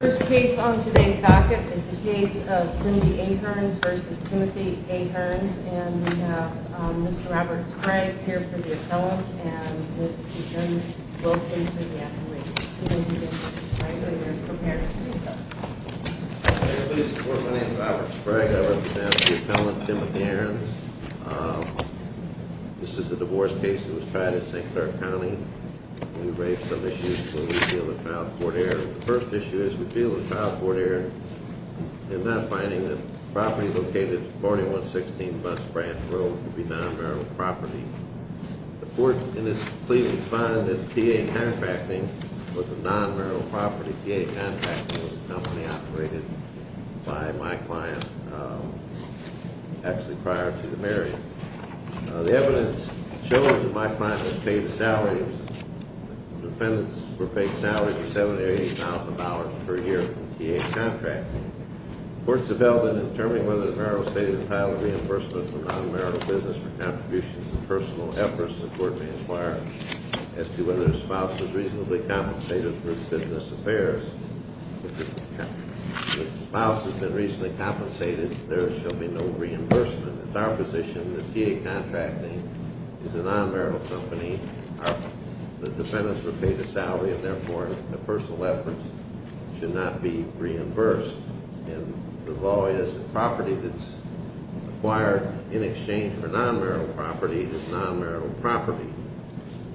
The first case on today's docket is the case of Cindy A. Ahrens v. Timothy A. Ahrens, and we have Mr. Robert Sprague here for the appellant, and Mr. Jim Wilson for the attorney. Cindy, I know you're prepared to do so. Thank you for your support. My name is Robert Sprague. I represent the appellant, Timothy Ahrens. This is a divorce case that was tried in St. Clair County, and we raised some issues when we sealed the trial for the court of error. The first issue is we sealed the trial for the court of error in that finding that the property located at 4116 West Branch Road would be non-marital property. The court in its plea to the client that the PA contracting was a non-marital property. The PA contracting was a company operated by my client actually prior to the marriage. The evidence shows that my client was paid a salary. The defendants were paid a salary of $7,000 to $8,000 per year from the PA contracting. Courts have held that in determining whether the marital estate is entitled to reimbursement for non-marital business for contributions and personal efforts, the court may inquire as to whether the spouse is reasonably compensated for its business affairs. If the spouse has been reasonably compensated, there shall be no reimbursement. It's our position that the PA contracting is a non-marital company. The defendants were paid a salary, and therefore, the personal efforts should not be reimbursed. And the law is the property that's acquired in exchange for non-marital property is non-marital property.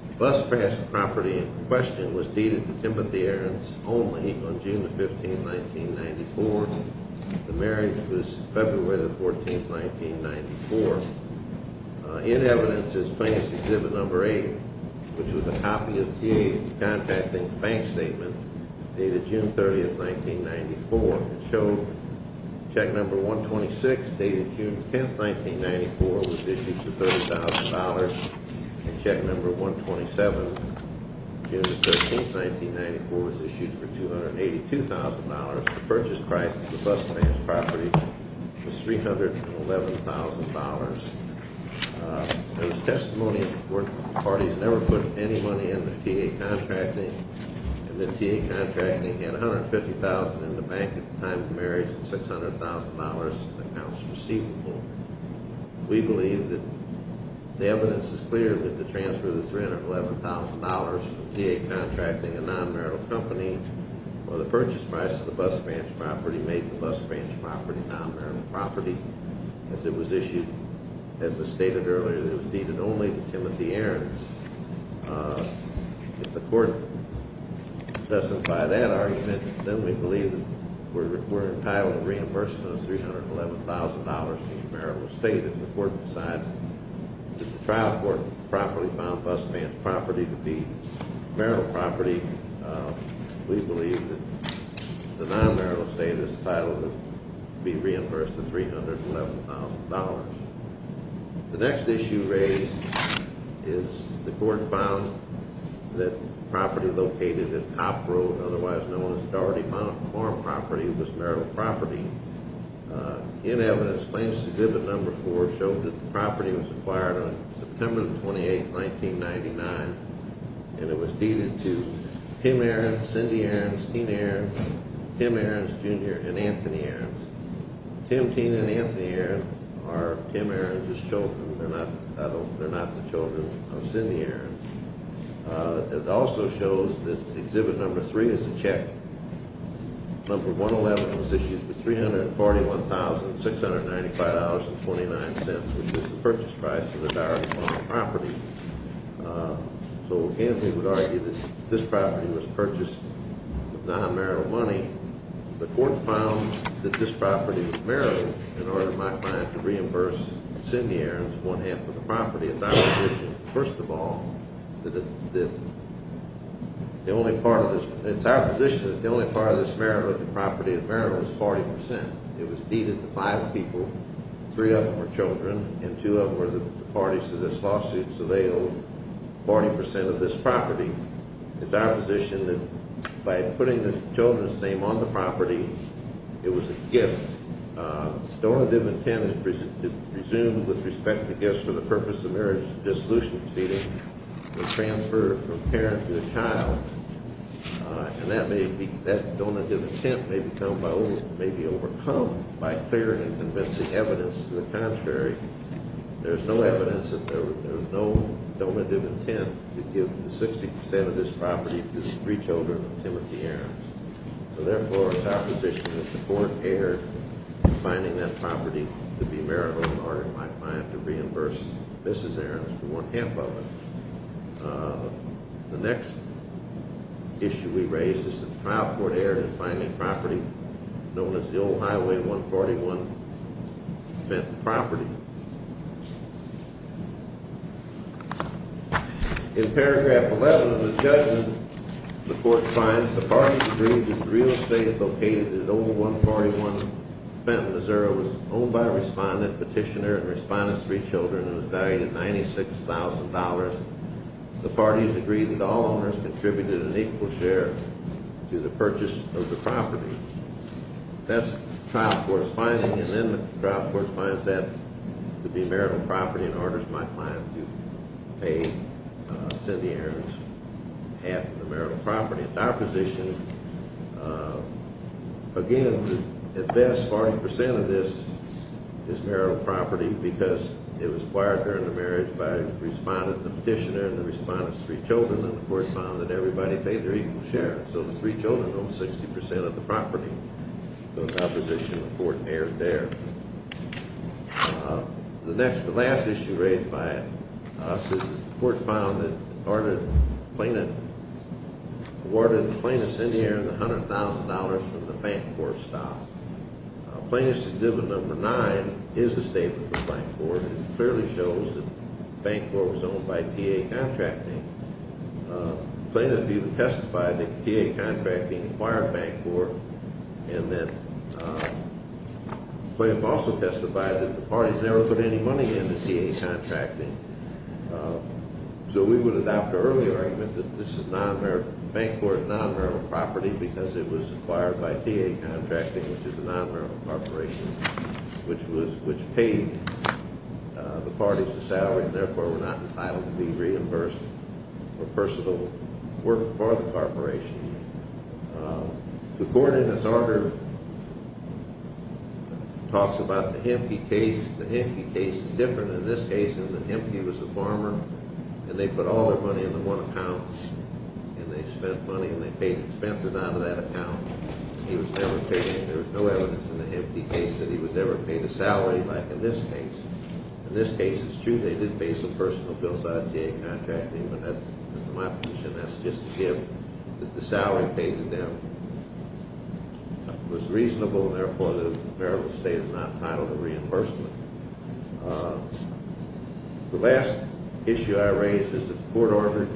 The bus pass to property in question was deeded to Timothy Aarons only on June 15, 1994. The marriage was February 14, 1994. In evidence is plaintiff's Exhibit No. 8, which was a copy of the PA contracting's bank statement dated June 30, 1994. It showed check No. 126 dated June 10, 1994 was issued for $30,000, and check No. 127 June 13, 1994 was issued for $282,000. The purchase price of the bus pass property was $311,000. There was testimony that the parties never put any money into PA contracting, and that PA contracting had $150,000 in the bank at the time of the marriage and $600,000 in accounts receivable. We believe that the evidence is clear that the transfer of the $311,000 from PA contracting, a non-marital company, or the purchase price of the bus pass property made the bus pass property non-marital property. As it was issued, as I stated earlier, it was deeded only to Timothy Aarons. If the court doesn't buy that argument, then we believe that we're entitled to reimbursement of $311,000 in the marital estate. If the court decides that the trial court property found bus pass property to be marital property, we believe that the non-marital estate is entitled to be reimbursed the $311,000. The next issue raised is the court found that property located at Top Road, otherwise known as Dougherty Farm property, was marital property. In evidence, Claims Exhibit No. 4 showed that the property was acquired on September 28, 1999, and it was deeded to Tim Aarons, Cindy Aarons, Tim Aarons Jr., and Anthony Aarons. Tim, Tina, and Anthony Aarons are Tim Aarons' children. They're not the children of Cindy Aarons. It also shows that Exhibit No. 3 is a check. Exhibit No. 111 was issued for $341,695.29, which is the purchase price of the Dougherty Farm property. So Anthony would argue that this property was purchased with non-marital money. The court found that this property was marital in order to reimburse Cindy Aarons one-half of the property. First of all, it's our position that the only part of this marital property is marital. It's 40%. It was deeded to five people. Three of them are children, and two of them were the parties to this lawsuit, so they own 40% of this property. It's our position that by putting the children's name on the property, it was a gift. Donative intent is presumed with respect to gifts for the purpose of marriage dissolution proceeding, the transfer from parent to child, and that donative intent may be overcome by clear and convincing evidence. To the contrary, there's no evidence that there was no donative intent to give 60% of this property to three children of Timothy Aarons. So therefore, it's our position that the court erred in finding that property to be marital in order, in my opinion, to reimburse Mrs. Aarons for one-half of it. The next issue we raise is that the trial court erred in finding property known as the Old Highway 141 Fenton property. In paragraph 11 of the judgment, the court finds the parties agreed that real estate located at Old Highway 141 Fenton, Missouri, was owned by a respondent, petitioner, and respondent's three children and was valued at $96,000. The parties agreed that all owners contributed an equal share to the purchase of the property. That's the trial court's finding, and then the trial court finds that to be marital property and orders my client to pay Cindy Aarons half of the marital property. It's our position, again, that at best 40% of this is marital property because it was acquired during the marriage by the respondent, the petitioner, and the respondent's three children, and the court found that everybody paid their equal share. So the three children owned 60% of the property. So it's our position the court erred there. The last issue raised by us is the court found that the plaintiff awarded Plaintiff Cindy Aarons $100,000 from the bank court stop. Plaintiff's exhibit number nine is the statement from the bank court. It clearly shows that the bank court was owned by TA Contracting. The plaintiff even testified that TA Contracting acquired bank court, and that the plaintiff also testified that the parties never put any money into TA Contracting. So we would adopt our earlier argument that the bank court is non-marital property because it was acquired by TA Contracting, which is a non-marital corporation, which paid the parties a salary and therefore were not entitled to be reimbursed for personal work for the corporation. The court in its order talks about the Hempke case. The Hempke case is different in this case in that Hempke was a farmer, and they put all their money into one account, and they spent money, and they paid expenses out of that account. There was no evidence in the Hempke case that he was ever paid a salary like in this case. In this case, it's true they did pay some personal bills out of TA Contracting, but that's my position. That's just to give that the salary paid to them was reasonable, and therefore the marital estate is not entitled to reimbursement. The last issue I raise is that the court ordered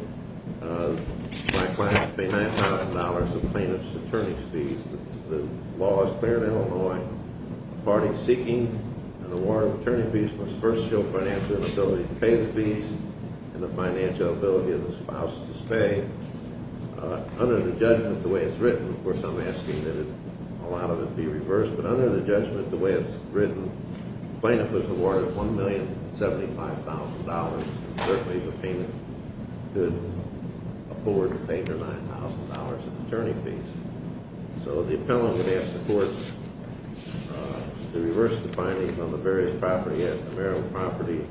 my client to pay $9,000 of plaintiff's attorney's fees. The law is clear in Illinois. Parties seeking an award of attorney fees must first show financial inability to pay the fees and the financial ability of the spouse to spay. Under the judgment the way it's written, of course I'm asking that a lot of it be reversed, but under the judgment the way it's written, the plaintiff was awarded $1,075,000, and certainly the plaintiff could afford to pay their $9,000 of attorney fees. So the appellant would ask the court to reverse the findings on the various property, ask the marital property,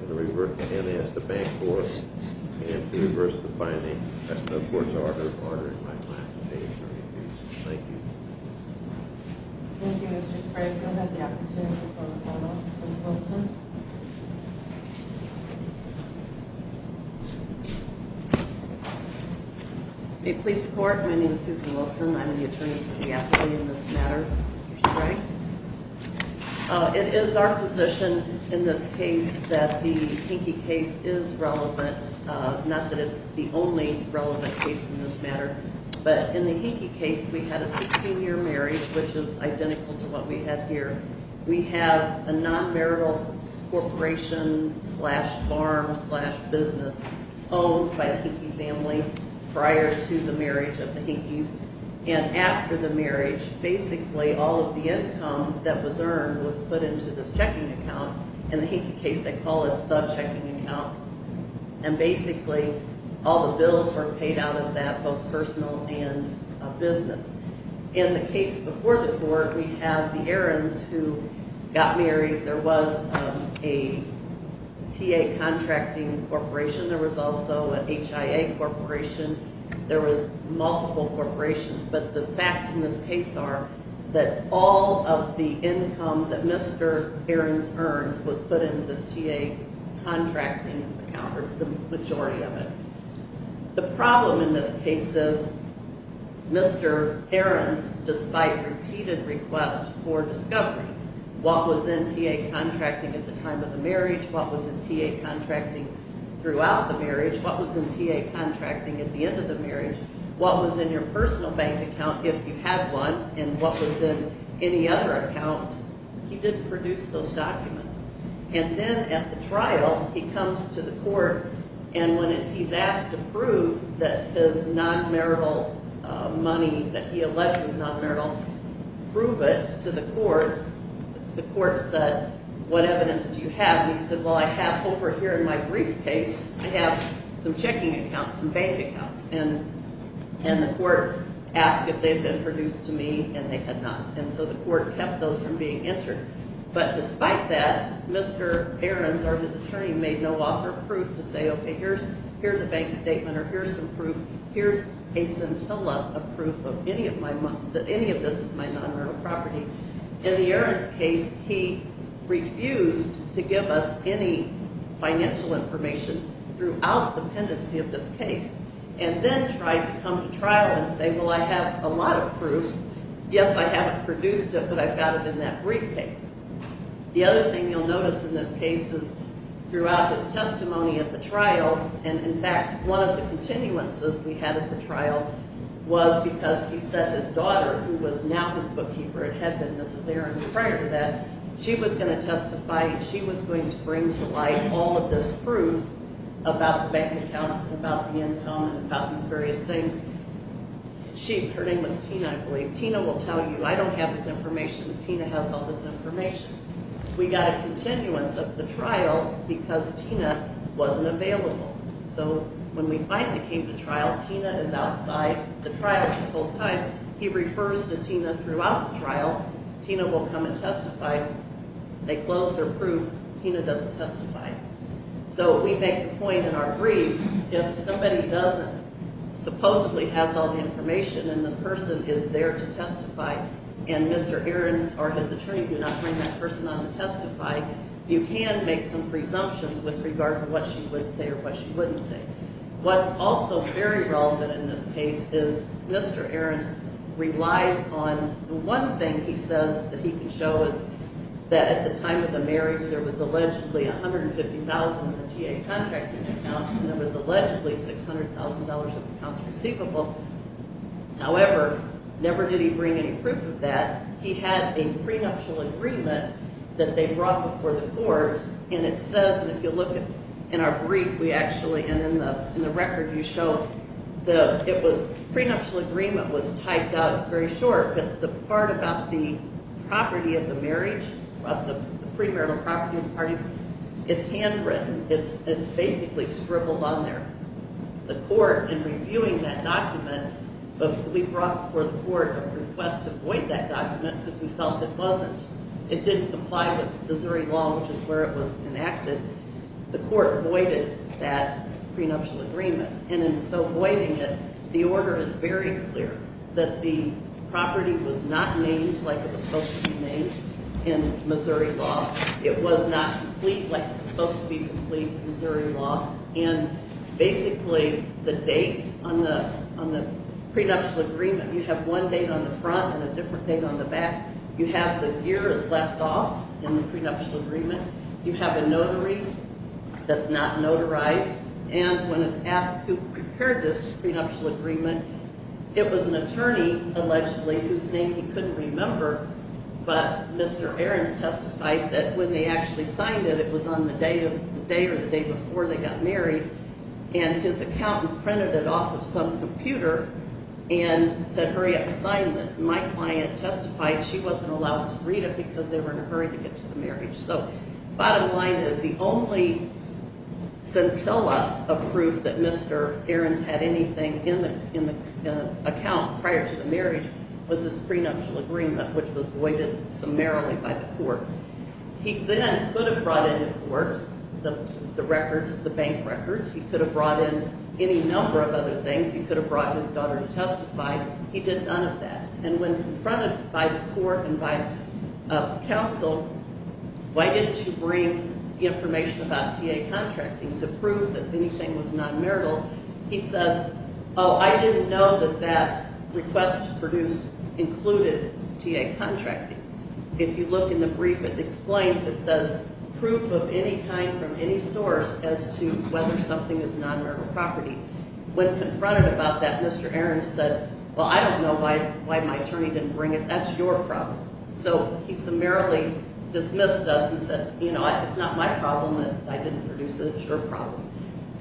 and ask the bank for it, and to reverse the findings. That's the court's order, ordering my client to pay attorney fees. Thank you. Thank you, Mr. Craig. We'll have the opportunity for a follow-up. Ms. Wilson? May it please the court, my name is Susan Wilson. I'm the attorney for the appellee in this matter, Mr. Craig. It is our position in this case that the Hinckley case is relevant, not that it's the only relevant case in this matter, but in the Hinckley case we had a 16-year marriage, which is identical to what we had here. We have a non-marital corporation slash farm slash business owned by a Hinckley family prior to the marriage of the Hinckleys, and after the marriage, basically all of the income that was earned was put into this checking account. In the Hinckley case they call it the checking account, and basically all the bills were paid out of that, both personal and business. In the case before the court, we have the Ahrens who got married. There was a TA contracting corporation. There was also an HIA corporation. There was multiple corporations, but the facts in this case are that all of the income that Mr. Ahrens earned was put into this TA contracting account, or the majority of it. The problem in this case is Mr. Ahrens, despite repeated requests for discovery, what was in TA contracting at the time of the marriage, what was in TA contracting throughout the marriage, what was in TA contracting at the end of the marriage, what was in your personal bank account if you had one, and what was in any other account, he didn't produce those documents. And then at the trial, he comes to the court, and when he's asked to prove that his non-marital money, that he alleged was non-marital, prove it to the court, the court said, what evidence do you have? He said, well, I have over here in my briefcase, I have some checking accounts, some bank accounts. And the court asked if they had been produced to me, and they had not. And so the court kept those from being entered. But despite that, Mr. Ahrens or his attorney made no offer of proof to say, okay, here's a bank statement or here's some proof, here's a scintilla of proof of any of this is my non-marital property. In the Ahrens case, he refused to give us any financial information throughout the pendency of this case. And then tried to come to trial and say, well, I have a lot of proof. Yes, I haven't produced it, but I've got it in that briefcase. The other thing you'll notice in this case is throughout his testimony at the trial, and in fact, one of the continuances we had at the trial was because he said his daughter, who was now his bookkeeper and had been Mrs. Ahrens prior to that, she was going to testify and she was going to bring to light all of this proof about the bank accounts and about the income and about these various things. She, her name was Tina, I believe. Tina will tell you, I don't have this information, but Tina has all this information. We got a continuance of the trial because Tina wasn't available. So when we finally came to trial, Tina is outside the trial the whole time. He refers to Tina throughout the trial. Tina will come and testify. They close their proof. Tina doesn't testify. So we make the point in our brief, if somebody doesn't supposedly have all the information and the person is there to testify and Mr. Ahrens or his attorney do not bring that person on to testify, you can make some presumptions with regard to what she would say or what she wouldn't say. What's also very relevant in this case is Mr. Ahrens relies on the one thing he says that he can show is that at the time of the marriage there was allegedly $150,000 in the TA contracting account and there was allegedly $600,000 of accounts receivable. However, never did he bring any proof of that. He had a prenuptial agreement that they brought before the court, and it says, and if you look in our brief, we actually, and in the record you show the, it was, the prenuptial agreement was typed out. It's very short, but the part about the property of the marriage, of the premarital property of the parties, it's handwritten. It's basically scribbled on there. The court, in reviewing that document, we brought before the court a request to void that document because we felt it wasn't, it didn't comply with Missouri law, which is where it was enacted. The court voided that prenuptial agreement. And in so voiding it, the order is very clear that the property was not named like it was supposed to be named in Missouri law. It was not complete like it was supposed to be complete in Missouri law. And basically the date on the, on the prenuptial agreement, you have one date on the front and a different date on the back. You have the years left off in the prenuptial agreement. You have a notary that's not notarized. And when it's asked who prepared this prenuptial agreement, it was an attorney, allegedly, whose name he couldn't remember, but Mr. Ahrens testified that when they actually signed it, it was on the day or the day before they got married. And his accountant printed it off of some computer and said, hurry up, sign this. My client testified she wasn't allowed to read it because they were in a hurry to get to the marriage. So bottom line is the only scintilla of proof that Mr. Ahrens had anything in the account prior to the marriage was his prenuptial agreement, which was voided summarily by the court. He then could have brought in the court, the records, the bank records. He could have brought in any number of other things. He could have brought his daughter to testify. He did none of that. And when confronted by the court and by counsel, why didn't you bring information about TA contracting to prove that anything was non-marital? He says, oh, I didn't know that that request produced included TA contracting. If you look in the brief, it explains. It says proof of any kind from any source as to whether something is non-marital property. When confronted about that, Mr. Ahrens said, well, I don't know why my attorney didn't bring it. That's your problem. So he summarily dismissed us and said, you know what, it's not my problem that I didn't produce it. It's your problem.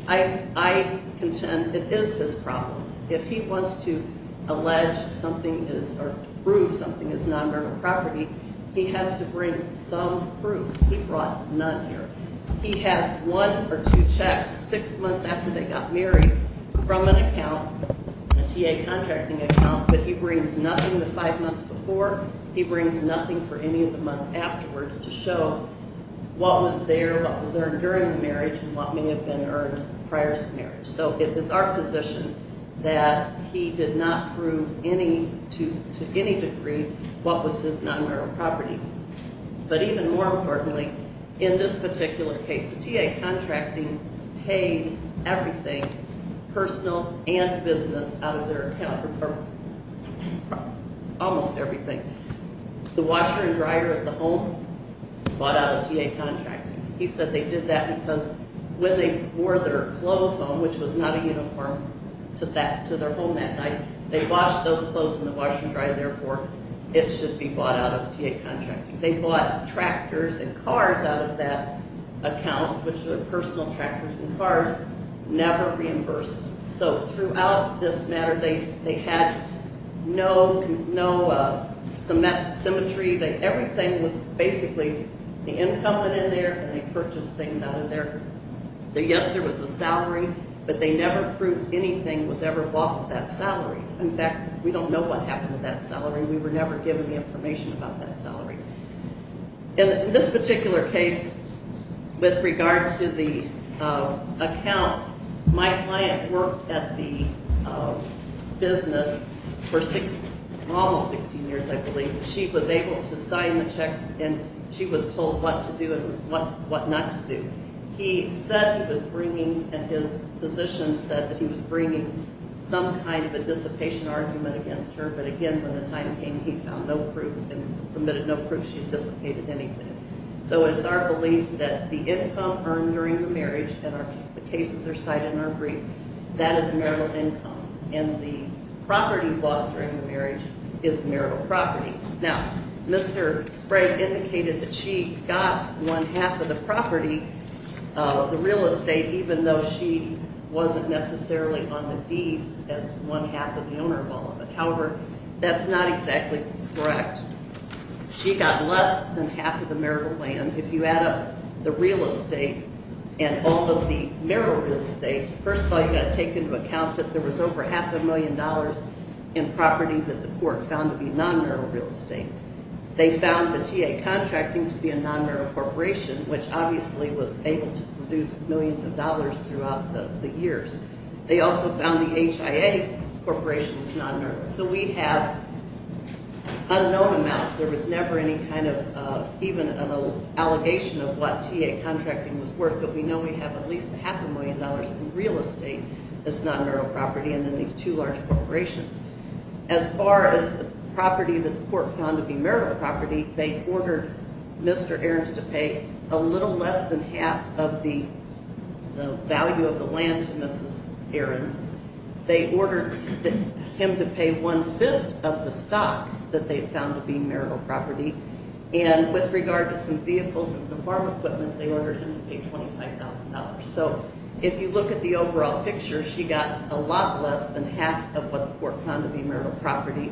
I contend it is his problem. If he wants to allege something is or prove something is non-marital property, he has to bring some proof. He brought none here. He has one or two checks six months after they got married from an account, a TA contracting account, but he brings nothing the five months before. He brings nothing for any of the months afterwards to show what was there, what was earned during the marriage, and what may have been earned prior to the marriage. So it was our position that he did not prove to any degree what was his non-marital property. But even more importantly, in this particular case, the TA contracting paid everything, personal and business, out of their account, or almost everything. The washer and dryer at the home bought out a TA contracting. He said they did that because when they wore their clothes home, which was not a uniform, to their home that night, they washed those clothes in the washer and dryer, therefore it should be bought out of TA contracting. They bought tractors and cars out of that account, which were personal tractors and cars, never reimbursed. So throughout this matter, they had no symmetry. Everything was basically the income went in there, and they purchased things out of there. Yes, there was a salary, but they never proved anything was ever bought with that salary. In fact, we don't know what happened with that salary. We were never given the information about that salary. In this particular case, with regard to the account, my client worked at the business for almost 16 years, I believe. She was able to sign the checks, and she was told what to do and what not to do. He said he was bringing, and his physician said that he was bringing some kind of a dissipation argument against her, but again, when the time came, he found no proof and submitted no proof she dissipated anything. So it's our belief that the income earned during the marriage, and the cases are cited in our brief, that is marital income. And the property bought during the marriage is marital property. Now, Mr. Sprague indicated that she got one-half of the property, the real estate, even though she wasn't necessarily on the deed as one-half of the owner of all of it. However, that's not exactly correct. She got less than half of the marital land. If you add up the real estate and all of the marital real estate, first of all, you've got to take into account that there was over half a million dollars in property that the court found to be non-neural real estate. They found the TA contracting to be a non-neural corporation, which obviously was able to produce millions of dollars throughout the years. They also found the HIA corporation was non-neural. So we have unknown amounts. There was never any kind of even an allegation of what TA contracting was worth, but we know we have at least half a million dollars in real estate that's not marital property, and then these two large corporations. As far as the property that the court found to be marital property, they ordered Mr. Ahrens to pay a little less than half of the value of the land to Mrs. Ahrens. They ordered him to pay one-fifth of the stock that they found to be marital property. And with regard to some vehicles and some farm equipment, they ordered him to pay $25,000. So if you look at the overall picture, she got a lot less than half of what the court found to be marital property.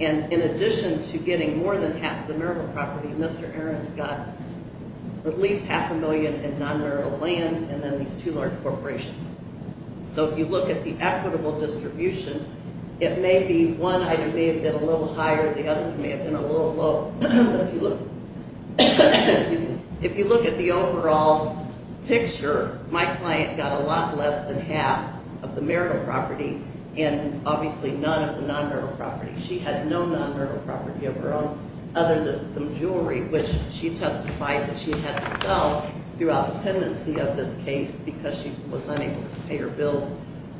And in addition to getting more than half the marital property, Mr. Ahrens got at least half a million in non-neural land and then these two large corporations. So if you look at the equitable distribution, it may be one item may have been a little higher, the other may have been a little low. But if you look at the overall picture, my client got a lot less than half of the marital property and obviously none of the non-neural property. She had no non-neural property of her own other than some jewelry, which she testified that she had to sell throughout the pendency of this case because she was unable to pay her bills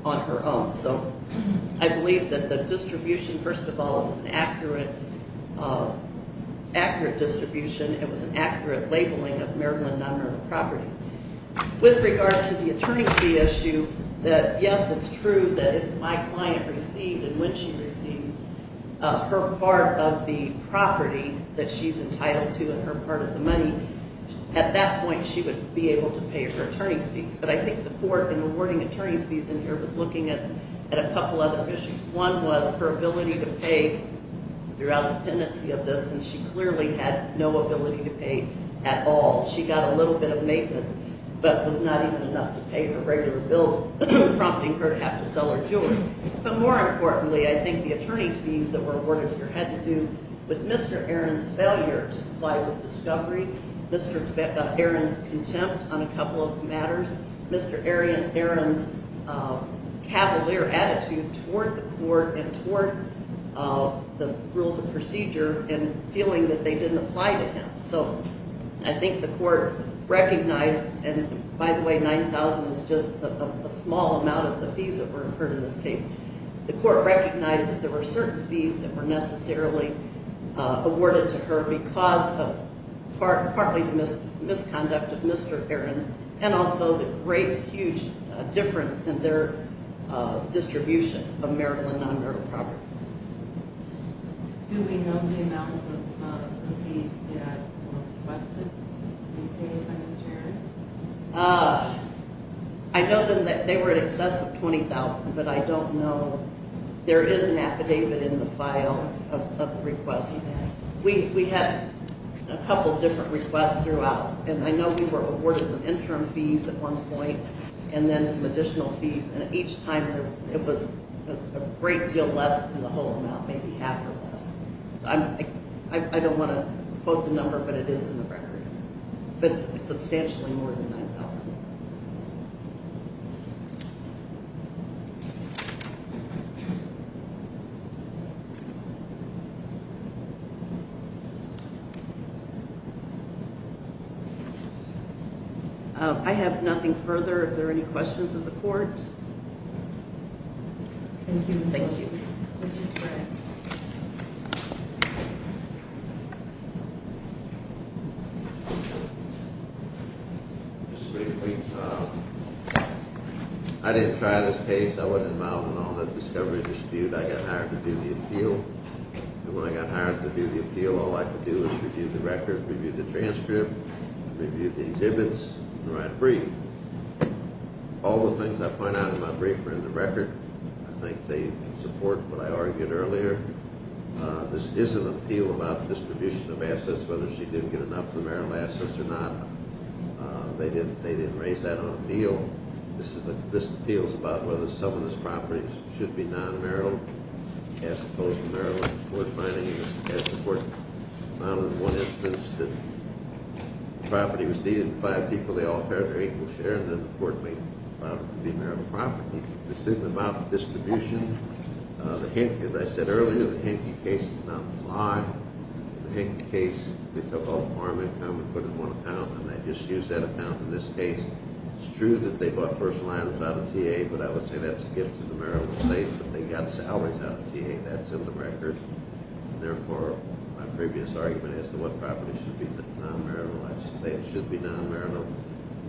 on her own. So I believe that the distribution, first of all, was an accurate distribution. It was an accurate labeling of marital and non-neural property. With regard to the attorney fee issue, yes, it's true that if my client received and when she receives her part of the property that she's entitled to and her part of the money, at that point she would be able to pay her attorney's fees. But I think the court in awarding attorney's fees in here was looking at a couple other issues. One was her ability to pay throughout the pendency of this, and she clearly had no ability to pay at all. She got a little bit of maintenance but was not even enough to pay her regular bills, prompting her to have to sell her jewelry. But more importantly, I think the attorney fees that were awarded here had to do with Mr. Aaron's failure to apply with discovery, Mr. Aaron's contempt on a couple of matters, Mr. Aaron's cavalier attitude toward the court and toward the rules of procedure and feeling that they didn't apply to him. So I think the court recognized, and by the way, 9,000 is just a small amount of the fees that were incurred in this case. The court recognized that there were certain fees that were necessarily awarded to her because of partly the misconduct of Mr. Aaron's and also the great, huge difference in their distribution of marital and non-marital property. Do we know the amount of fees that were requested to be paid by Mr. Aaron's? I know that they were in excess of 20,000, but I don't know. There is an affidavit in the file of the request. We had a couple of different requests throughout, and I know we were awarded some interim fees at one point and then some additional fees, and each time it was a great deal less than the whole amount, maybe half or less. I don't want to quote the number, but it is in the record. But it's substantially more than 9,000. I have nothing further. Are there any questions of the court? Thank you. I didn't try this case. I wasn't involved in all the discovery dispute. I got hired to do the appeal, and when I got hired to do the appeal, all I could do was review the record, review the transcript, review the exhibits, and write a brief. All the things I point out in my brief are in the record. I think they support what I argued earlier. This is an appeal about distribution of assets, whether she didn't get enough of the marital assets or not. They didn't raise that on appeal. This appeal is about whether some of these properties should be non-marital, as opposed to marital. The court finding is that the court found in one instance that the property was needed, the five people, they all paid their equal share, and then the court found it to be marital property. This is about distribution. As I said earlier, the Hinckley case did not apply. In the Hinckley case, they took all the farm income and put it in one account, and they just used that account in this case. It's true that they bought personal items out of TA, but I would say that's a gift to the marital estate, that they got salaries out of TA. That's in the record. Therefore, my previous argument as to what property should be non-maritalized, I would say it should be non-marital.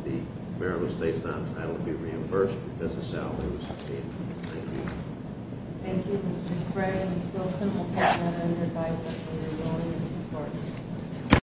The marital estate's non-title would be reimbursed because the salary was paid. Thank you. Thank you, Mr. Sprague. Ms. Wilson will take that on your advice as to whether you're willing to reimburse.